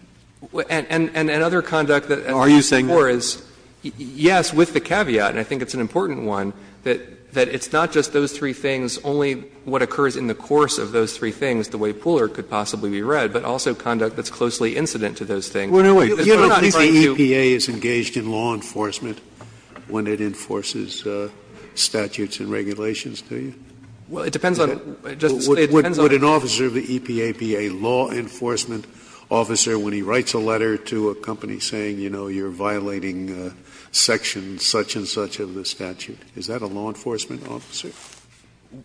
And, and, and other conduct that, as I said before, is, yes, with the caveat, and I think it's an important one, that, that it's not just those three things, only what occurs in the course of those three things, the way Pooler could possibly be read, but also conduct that's closely incident to those things. Well, no, wait, you don't think the EPA is engaged in law enforcement when it enforces statutes and regulations, do you? Well, it depends on, Justice Scalia, it depends on. Would an officer of the EPA be a law enforcement officer when he writes a letter to a company saying, you know, you're violating section such-and-such of the statute? Is that a law enforcement officer?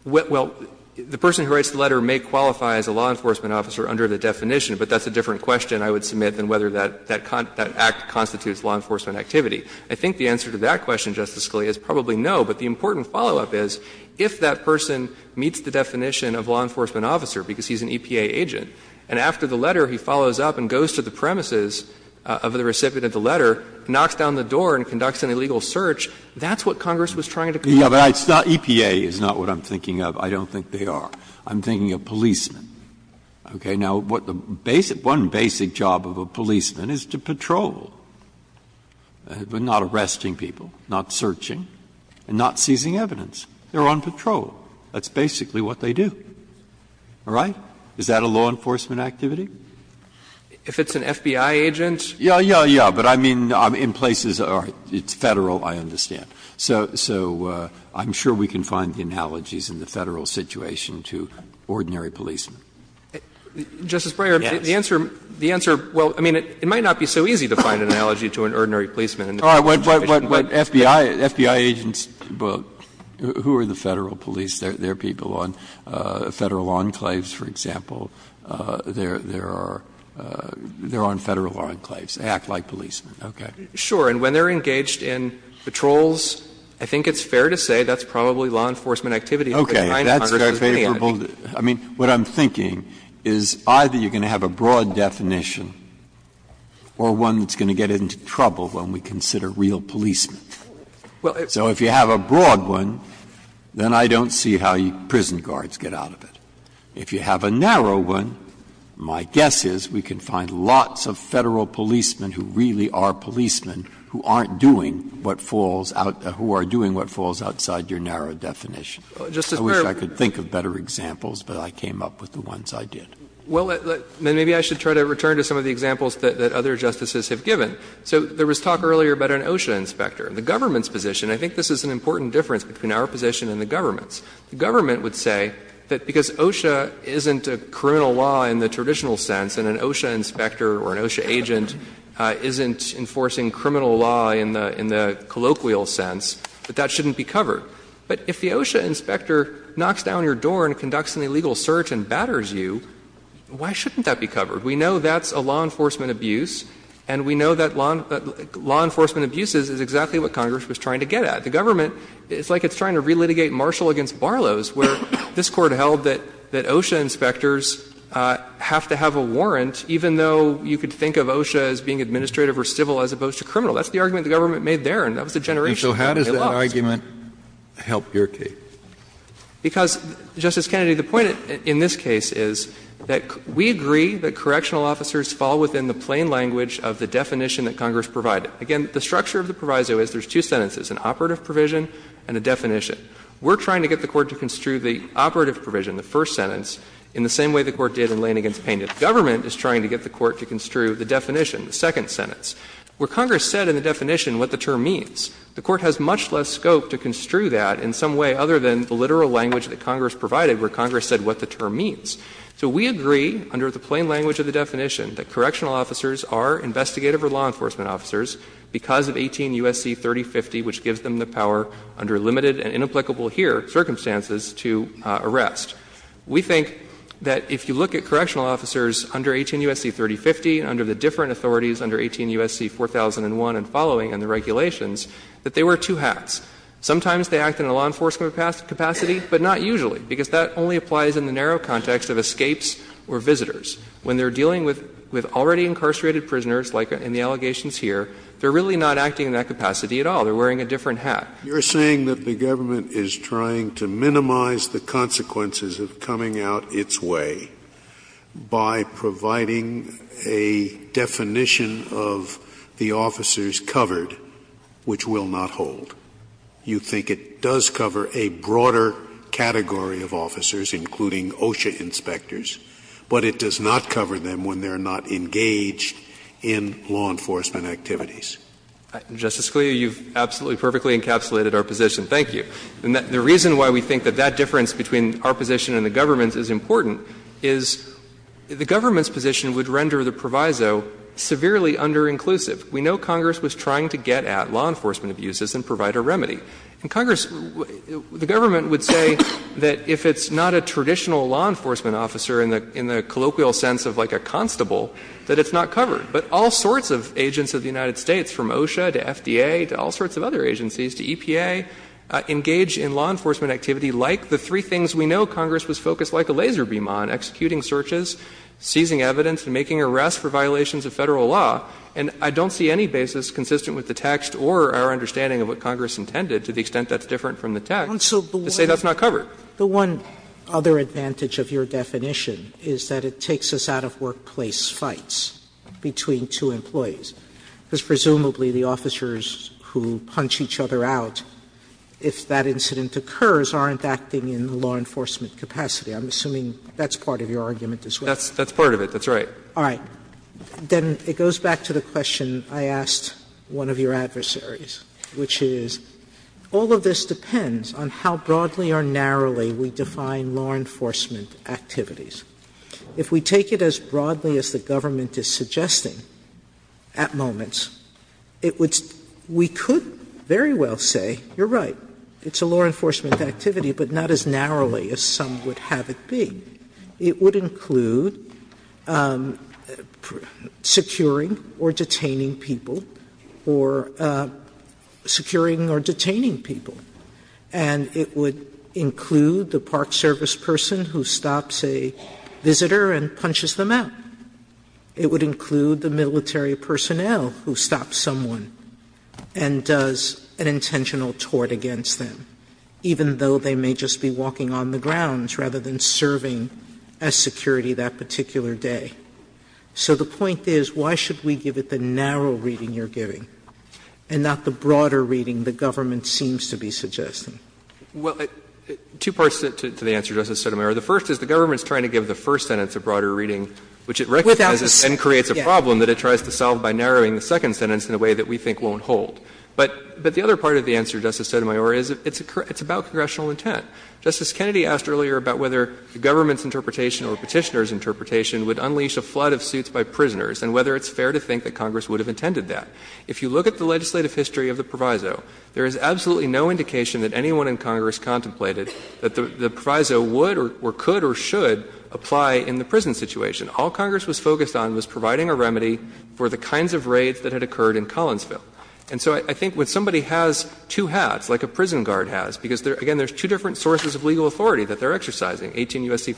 Well, the person who writes the letter may qualify as a law enforcement officer under the definition, but that's a different question I would submit than whether that, that act constitutes law enforcement activity. I think the answer to that question, Justice Scalia, is probably no, but the important follow-up is, if that person meets the definition of law enforcement officer because he's an EPA agent, and after the letter he follows up and goes to the premises of the recipient of the letter, knocks down the door and conducts an illegal search, that's what Congress was trying to come up with. Yeah, but it's not EPA is not what I'm thinking of. I don't think they are. I'm thinking of policemen, okay? Now, one basic job of a policeman is to patrol, but not arresting people, not searching, and not seizing evidence. They're on patrol. That's basically what they do. All right? Is that a law enforcement activity? If it's an FBI agent? Yeah, yeah, yeah. But I mean, in places, it's Federal, I understand. So I'm sure we can find the analogies in the Federal situation to ordinary policemen. Justice Breyer, the answer, the answer, well, I mean, it might not be so easy to find an analogy to an ordinary policeman in the Federal situation. But FBI agents, who are the Federal police? They're people on Federal enclaves, for example. They're on Federal enclaves. They act like policemen. Okay. Sure. And when they're engaged in patrols, I think it's fair to say that's probably law enforcement activity. Okay. That's a favorable, I mean, what I'm thinking is either you're going to have a broad definition or one that's going to get into trouble when we consider real policemen. So if you have a broad one, then I don't see how prison guards get out of it. If you have a narrow one, my guess is we can find lots of Federal policemen who really are policemen who aren't doing what falls out, who are doing what falls outside your narrow definition. I wish I could think of better examples, but I came up with the ones I did. Well, then maybe I should try to return to some of the examples that other Justices have given. So there was talk earlier about an OSHA inspector. The government's position, I think this is an important difference between our position and the government's. The government would say that because OSHA isn't a criminal law in the traditional sense and an OSHA inspector or an OSHA agent isn't enforcing criminal law in the colloquial sense, that that shouldn't be covered. But if the OSHA inspector knocks down your door and conducts an illegal search and batters you, why shouldn't that be covered? We know that's a law enforcement abuse, and we know that law enforcement abuse is exactly what Congress was trying to get at. The government, it's like it's trying to relitigate Marshall v. Barlows, where this Court held that OSHA inspectors have to have a warrant, even though you could think of OSHA as being administrative or civil as opposed to criminal. That's the argument the government made there, and that was a generation ago. And it's not a law enforcement abuse. Kennedy, the point in this case is that we agree that correctional officers fall within the plain language of the definition that Congress provided. Again, the structure of the proviso is there's two sentences, an operative provision and a definition. We're trying to get the Court to construe the operative provision, the first sentence, in the same way the Court did in Lane v. Painted. The government is trying to get the Court to construe the definition, the second sentence. Where Congress said in the definition what the term means, the Court has much more scope to construe that in some way other than the literal language that Congress provided, where Congress said what the term means. So we agree under the plain language of the definition that correctional officers are investigative or law enforcement officers because of 18 U.S.C. 3050, which gives them the power under limited and inapplicable here circumstances to arrest. We think that if you look at correctional officers under 18 U.S.C. 3050 and under the different authorities under 18 U.S.C. 4001 and following and the regulations, that they wear two hats. Sometimes they act in a law enforcement capacity, but not usually, because that only applies in the narrow context of escapes or visitors. When they're dealing with already incarcerated prisoners, like in the allegations here, they're really not acting in that capacity at all. They're wearing a different hat. Scalia. You're saying that the government is trying to minimize the consequences of coming out its way by providing a definition of the officers covered, which will not hold. You think it does cover a broader category of officers, including OSHA inspectors, but it does not cover them when they're not engaged in law enforcement activities. Justice Scalia, you've absolutely perfectly encapsulated our position. Thank you. And the reason why we think that that difference between our position and the government's is important is the government's position would render the proviso severely underinclusive. We know Congress was trying to get at law enforcement abuses and provide a remedy. And Congress, the government would say that if it's not a traditional law enforcement officer in the colloquial sense of, like, a constable, that it's not covered. But all sorts of agents of the United States, from OSHA to FDA to all sorts of other agencies to EPA, engage in law enforcement activity like the three things we know Congress was focused like a laser beam on, executing searches, seizing evidence, and making arrests for violations of Federal law. And I don't see any basis consistent with the text or our understanding of what Congress intended, to the extent that's different from the text, to say that's not covered. Sotomayor, the one other advantage of your definition is that it takes us out of workplace between two employees, because presumably the officers who punch each other out, if that incident occurs, aren't acting in the law enforcement capacity. I'm assuming that's part of your argument as well. That's part of it. That's right. All right. Then it goes back to the question I asked one of your adversaries, which is all of this depends on how broadly or narrowly we define law enforcement activities. If we take it as broadly as the government is suggesting at moments, it would we could very well say, you're right, it's a law enforcement activity, but not as narrowly as some would have it be. It would include securing or detaining people or securing or detaining people. And it would include the park service person who stops a visitor and punches them out. It would include the military personnel who stops someone and does an intentional tort against them, even though they may just be walking on the grounds rather than serving as security that particular day. So the point is, why should we give it the narrow reading you're giving and not the broad reading you're suggesting? Well, two parts to the answer, Justice Sotomayor. The first is the government is trying to give the first sentence a broader reading, which it recognizes and creates a problem that it tries to solve by narrowing the second sentence in a way that we think won't hold. But the other part of the answer, Justice Sotomayor, is it's about congressional intent. Justice Kennedy asked earlier about whether the government's interpretation or Petitioner's interpretation would unleash a flood of suits by prisoners and whether it's fair to think that Congress would have intended that. If you look at the legislative history of the proviso, there is absolutely no indication that anyone in Congress contemplated that the proviso would or could or should apply in the prison situation. All Congress was focused on was providing a remedy for the kinds of raids that had occurred in Collinsville. And so I think when somebody has two hats, like a prison guard has, because, again, there's two different sources of legal authority that they're exercising, 18 U.S.C.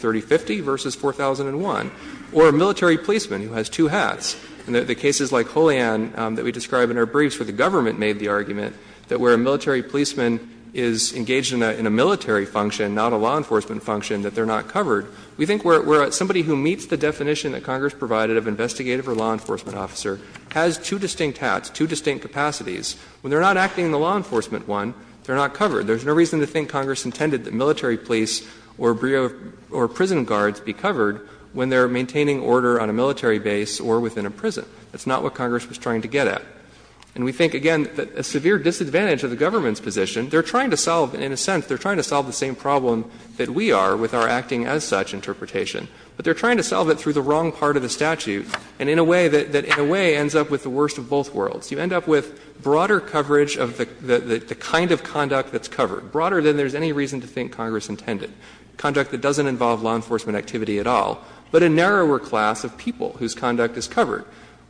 And the cases like Holian that we describe in our briefs where the government made the argument that where a military policeman is engaged in a military function, not a law enforcement function, that they're not covered, we think where somebody who meets the definition that Congress provided of investigative or law enforcement officer has two distinct hats, two distinct capacities. When they're not acting in the law enforcement one, they're not covered. There's no reason to think Congress intended that military police or prison guards be covered when they're maintaining order on a military base or within a prison. That's not what Congress was trying to get at. And we think, again, that a severe disadvantage of the government's position, they're trying to solve, in a sense, they're trying to solve the same problem that we are with our acting as such interpretation. But they're trying to solve it through the wrong part of the statute and in a way that in a way ends up with the worst of both worlds. You end up with broader coverage of the kind of conduct that's covered, broader than there's any reason to think Congress intended, conduct that doesn't involve law enforcement activity at all, but a narrower class of people whose conduct is covered,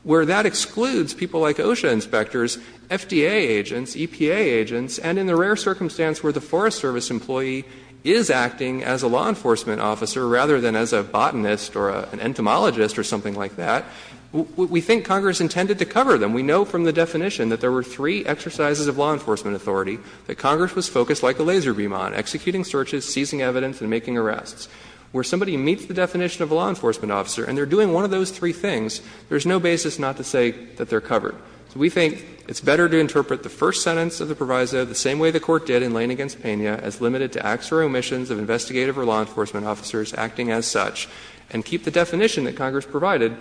where that excludes people like OSHA inspectors, FDA agents, EPA agents. And in the rare circumstance where the Forest Service employee is acting as a law enforcement officer rather than as a botanist or an entomologist or something like that, we think Congress intended to cover them. We know from the definition that there were three exercises of law enforcement authority, that Congress was focused like a laser beam on, executing searches, seizing evidence, and making arrests. Where somebody meets the definition of a law enforcement officer and they're doing one of those three things, there's no basis not to say that they're covered. So we think it's better to interpret the first sentence of the proviso the same way the Court did in Lane v. Pena as limited to acts or omissions of investigative or law enforcement officers acting as such, and keep the definition that Congress provided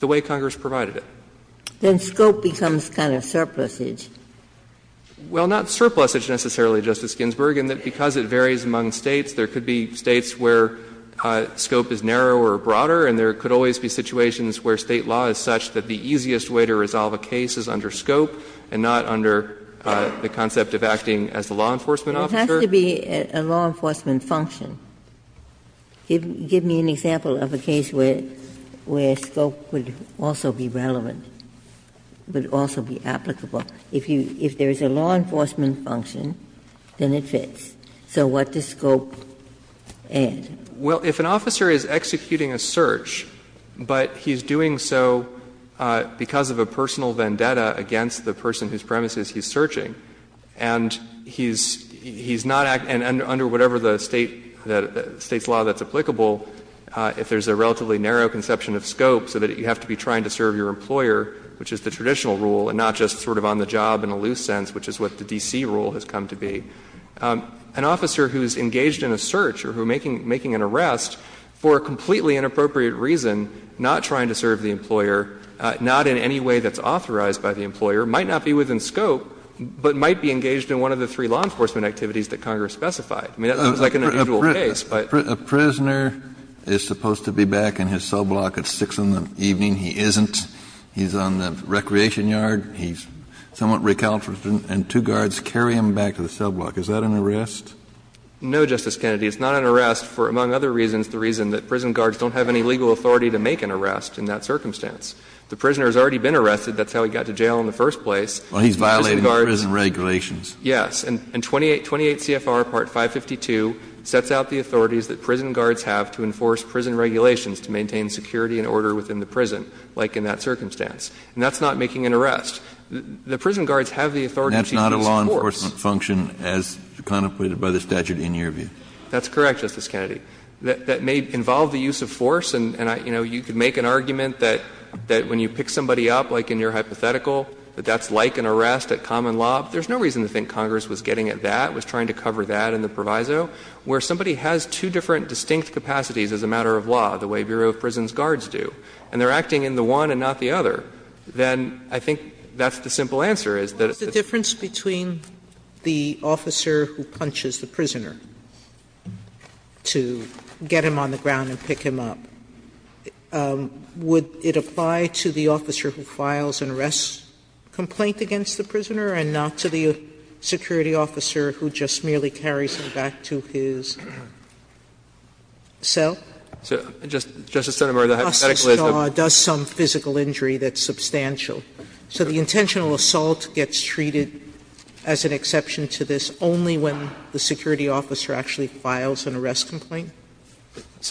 the way Congress provided it. Ginsburg. Then scope becomes kind of surplusage. Well, not surplusage necessarily, Justice Ginsburg, in that because it varies among States. There could be States where scope is narrower or broader, and there could always be situations where State law is such that the easiest way to resolve a case is under scope and not under the concept of acting as a law enforcement officer. It has to be a law enforcement function. Give me an example of a case where scope would also be relevant, would also be applicable. If there is a law enforcement function, then it fits. So what does scope add? Well, if an officer is executing a search, but he's doing so because of a personal vendetta against the person whose premises he's searching, and he's not acting under whatever the State's law that's applicable, if there's a relatively narrow conception of scope so that you have to be trying to serve your employer, which is the traditional rule, and not just sort of on the job in a loose sense, which is what the D.C. rule has come to be, an officer who's engaged in a search or who is making an arrest for a completely inappropriate reason, not trying to serve the employer, not in any way that's authorized by the employer, might not be within scope, but might be engaged in one of the three law enforcement activities that Congress specified. Kennedy, that seems like an unusual case, but the prisoner is supposed to be back in his cell block at 6 in the evening. He isn't. He's on the recreation yard. He's somewhat recalcitrant, and two guards carry him back to the cell block. Is that an arrest? No, Justice Kennedy. It's not an arrest for, among other reasons, the reason that prison guards don't have any legal authority to make an arrest in that circumstance. The prisoner has already been arrested. That's how he got to jail in the first place. Well, he's violating the prison regulations. Yes. And 28 CFR Part 552 sets out the authorities that prison guards have to enforce prison regulations to maintain security and order within the prison, like in that circumstance. And that's not making an arrest. The prison guards have the authority to use force. And that's not a law enforcement function as contemplated by the statute in your view? That's correct, Justice Kennedy. That may involve the use of force, and, you know, you could make an argument that when you pick somebody up, like in your hypothetical, that that's like an arrest at common law. There's no reason to think Congress was getting at that, was trying to cover that in the proviso. Where somebody has two different distinct capacities as a matter of law, the way Bureau of Prisons guards do, and they're acting in the one and not the other, then I think that's the simple answer, is that it's the difference between the officer who punches the prisoner to get him on the ground and pick him up. Would it apply to the officer who files an arrest complaint against the prisoner and not to the security officer who just merely carries him back to his cell? So Justice Sotomayor, the hypothetical is that the officer's jaw does some physical injury that's substantial. So the intentional assault gets treated as an exception to this only when the security officer actually files an arrest complaint?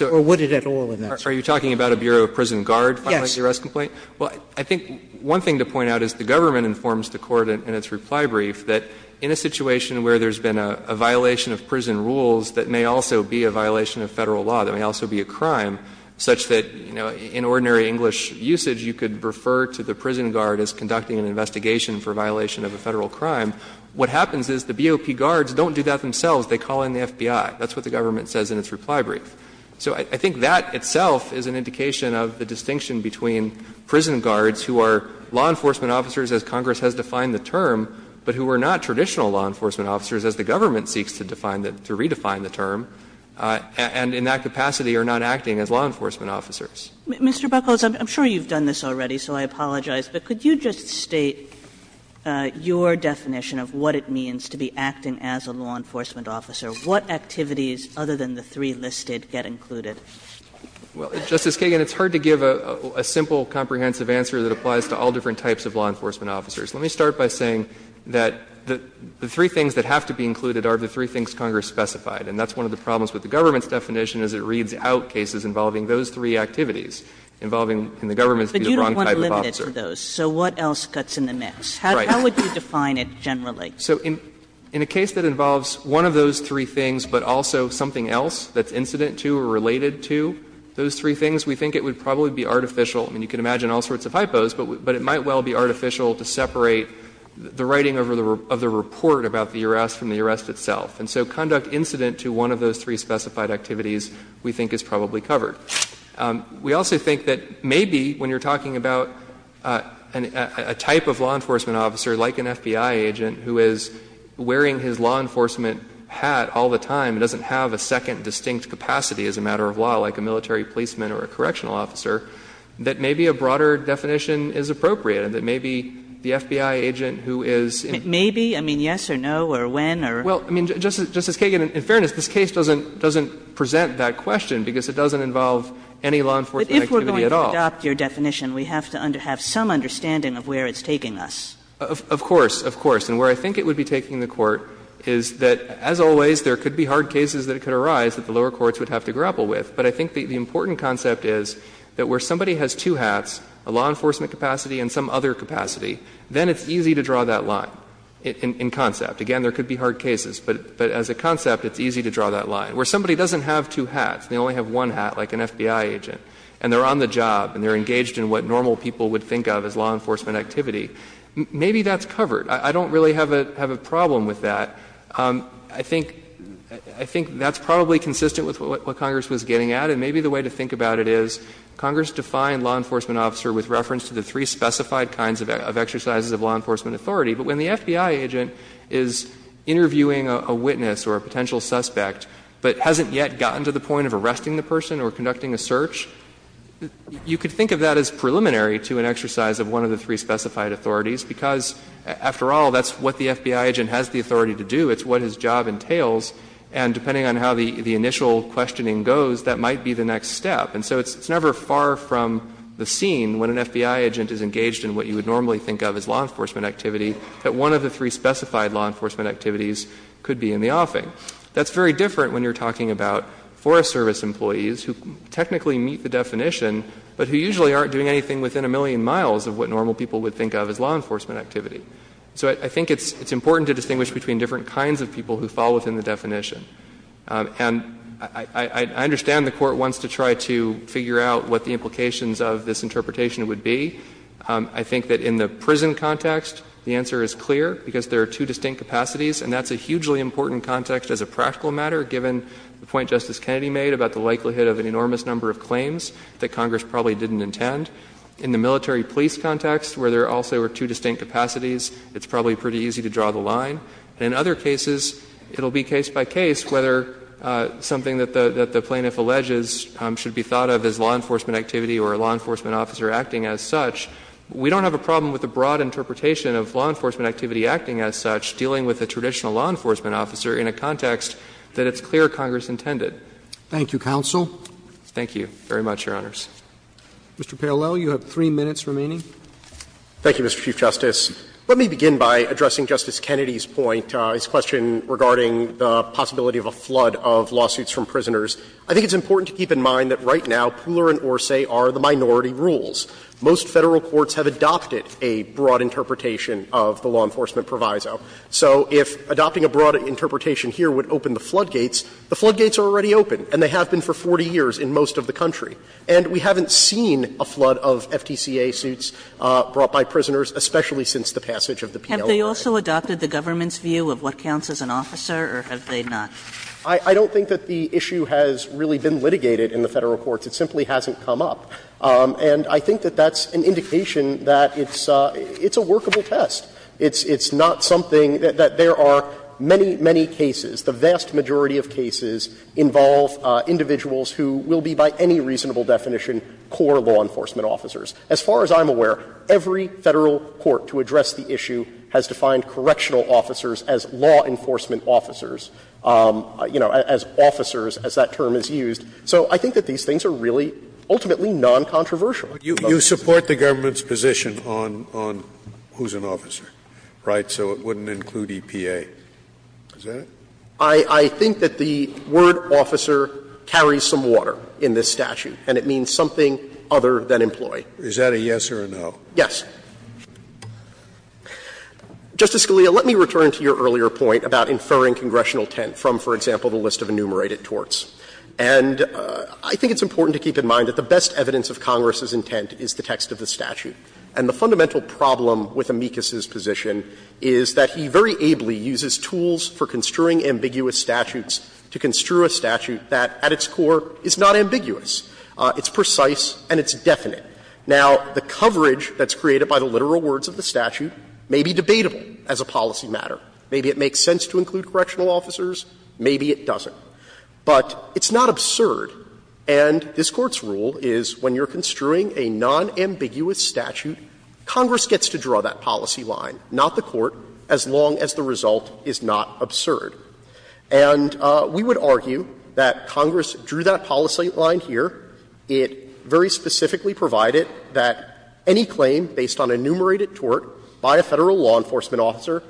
Or would it at all in that case? Are you talking about a Bureau of Prisons guard filing an arrest complaint? Yes. Well, I think one thing to point out is the government informs the Court in its reply brief that in a situation where there's been a violation of prison rules that may also be a violation of Federal law, that may also be a crime, such that, you know, in ordinary English usage, you could refer to the prison guard as conducting an investigation for violation of a Federal crime. What happens is the BOP guards don't do that themselves. They call in the FBI. That's what the government says in its reply brief. So I think that itself is an indication of the distinction between prison guards who are law enforcement officers, as Congress has defined the term, but who are not traditional law enforcement officers, as the government seeks to define the term, to redefine the term, and in that capacity are not acting as law enforcement officers. Kagan. Mr. Buckles, I'm sure you've done this already, so I apologize, but could you just state your definition of what it means to be acting as a law enforcement officer? What activities, other than the three listed, get included? Buckles, Well, Justice Kagan, it's hard to give a simple comprehensive answer that applies to all different types of law enforcement officers. Let me start by saying that the three things that have to be included are the three things Congress specified, and that's one of the problems with the government's definition is it reads out cases involving those three activities, involving the government to be the wrong type of officer. Kagan So what else cuts in the mix? How would you define it generally? Buckles, So in a case that involves one of those three things, but also something else that's incident to or related to those three things, we think it would probably be artificial. I mean, you can imagine all sorts of hypos, but it might well be artificial to separate the writing of the report about the arrest from the arrest itself. And so conduct incident to one of those three specified activities, we think, is probably covered. We also think that maybe when you're talking about a type of law enforcement officer, like an FBI agent who is wearing his law enforcement hat all the time and doesn't have a second distinct capacity as a matter of law, like a military policeman or a correctional officer, that maybe a broader definition is appropriate, and that maybe the FBI agent who is in. Kagan Maybe? I mean, yes or no, or when, or? Buckles, Well, I mean, Justice Kagan, in fairness, this case doesn't present that question, because it doesn't involve any law enforcement activity at all. Kagan But if we're going to adopt your definition, we have to have some understanding of where it's taking us. Buckles, Of course, of course. And where I think it would be taking the Court is that, as always, there could be hard cases that could arise that the lower courts would have to grapple with. But I think the important concept is that where somebody has two hats, a law enforcement capacity and some other capacity, then it's easy to draw that line in concept. Again, there could be hard cases, but as a concept, it's easy to draw that line. Where somebody doesn't have two hats, they only have one hat, like an FBI agent, and they're on the job and they're engaged in what normal people would think of as a law enforcement activity. Maybe that's covered. I don't really have a problem with that. I think that's probably consistent with what Congress was getting at. And maybe the way to think about it is, Congress defined law enforcement officer with reference to the three specified kinds of exercises of law enforcement authority, but when the FBI agent is interviewing a witness or a potential suspect but hasn't yet gotten to the point of arresting the person or conducting a search, you could think of that as preliminary to an exercise of one of the three specified authorities, because, after all, that's what the FBI agent has the authority to do. It's what his job entails, and depending on how the initial questioning goes, that might be the next step. And so it's never far from the scene when an FBI agent is engaged in what you would normally think of as law enforcement activity, that one of the three specified law enforcement activities could be in the offing. That's very different when you're talking about Forest Service employees who technically meet the definition, but who usually aren't doing anything within a million miles of what normal people would think of as law enforcement activity. So I think it's important to distinguish between different kinds of people who fall within the definition. And I understand the Court wants to try to figure out what the implications of this interpretation would be. I think that in the prison context, the answer is clear, because there are two distinct capacities, and that's a hugely important context as a practical matter, given the point Justice Kennedy made about the likelihood of an enormous number of claims that Congress probably didn't intend. In the military police context, where there also were two distinct capacities, it's probably pretty easy to draw the line. In other cases, it will be case by case whether something that the plaintiff alleges should be thought of as law enforcement activity or a law enforcement officer acting as such. We don't have a problem with the broad interpretation of law enforcement activity acting as such, dealing with a traditional law enforcement officer in a context that it's clear Congress intended. Roberts. Thank you, counsel. Thank you very much, Your Honors. Mr. Parolel, you have three minutes remaining. Thank you, Mr. Chief Justice. Let me begin by addressing Justice Kennedy's point, his question regarding the possibility of a flood of lawsuits from prisoners. I think it's important to keep in mind that right now Pooler and Orsay are the minority rules. Most Federal courts have adopted a broad interpretation of the law enforcement proviso. So if adopting a broad interpretation here would open the floodgates, the floodgates are already open, and they have been for 40 years in most of the country. And we haven't seen a flood of FTCA suits brought by prisoners, especially since the passage of the PLO Act. Have they also adopted the government's view of what counts as an officer, or have they not? I don't think that the issue has really been litigated in the Federal courts. It simply hasn't come up. And I think that that's an indication that it's a workable test. It's not something that there are many, many cases, the vast majority of cases, involve individuals who will be by any reasonable definition core law enforcement officers. As far as I'm aware, every Federal court to address the issue has defined correctional officers as law enforcement officers, you know, as officers, as that term is used. So I think that these things are really ultimately noncontroversial. Scalia, you support the government's position on who's an officer, right, so it wouldn't include EPA. Is that it? I think that the word officer carries some water in this statute, and it means something other than employee. Is that a yes or a no? Yes. Justice Scalia, let me return to your earlier point about inferring congressional intent from, for example, the list of enumerated torts. And I think it's important to keep in mind that the best evidence of Congress's intent is the text of the statute. And the fundamental problem with Amicus's position is that he very ably uses tools for construing ambiguous statutes to construe a statute that at its core is not ambiguous. It's precise and it's definite. Now, the coverage that's created by the literal words of the statute may be debatable as a policy matter. Maybe it makes sense to include correctional officers, maybe it doesn't. But it's not absurd, and this Court's rule is when you're construing a nonambiguous statute, Congress gets to draw that policy line, not the Court, as long as the result is not absurd. And we would argue that Congress drew that policy line here. It very specifically provided that any claim based on enumerated tort by a Federal law enforcement officer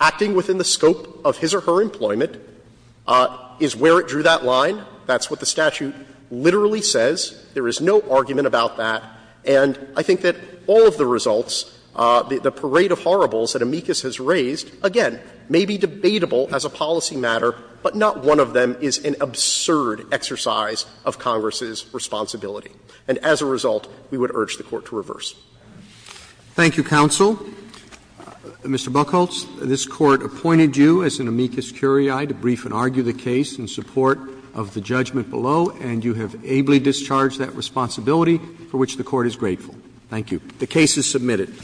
acting within the scope of his or her employment is required to be considered as an amicus curiae. That's where it drew that line. That's what the statute literally says. There is no argument about that. And I think that all of the results, the parade of horribles that Amicus has raised, again, may be debatable as a policy matter, but not one of them is an absurd exercise of Congress's responsibility. And as a result, we would urge the Court to reverse. Roberts. Thank you, counsel. Mr. Buchholz, this Court appointed you as an amicus curiae to brief and argue the case in support of the judgment below, and you have ably discharged that responsibility for which the Court is grateful. Thank you. The case is submitted.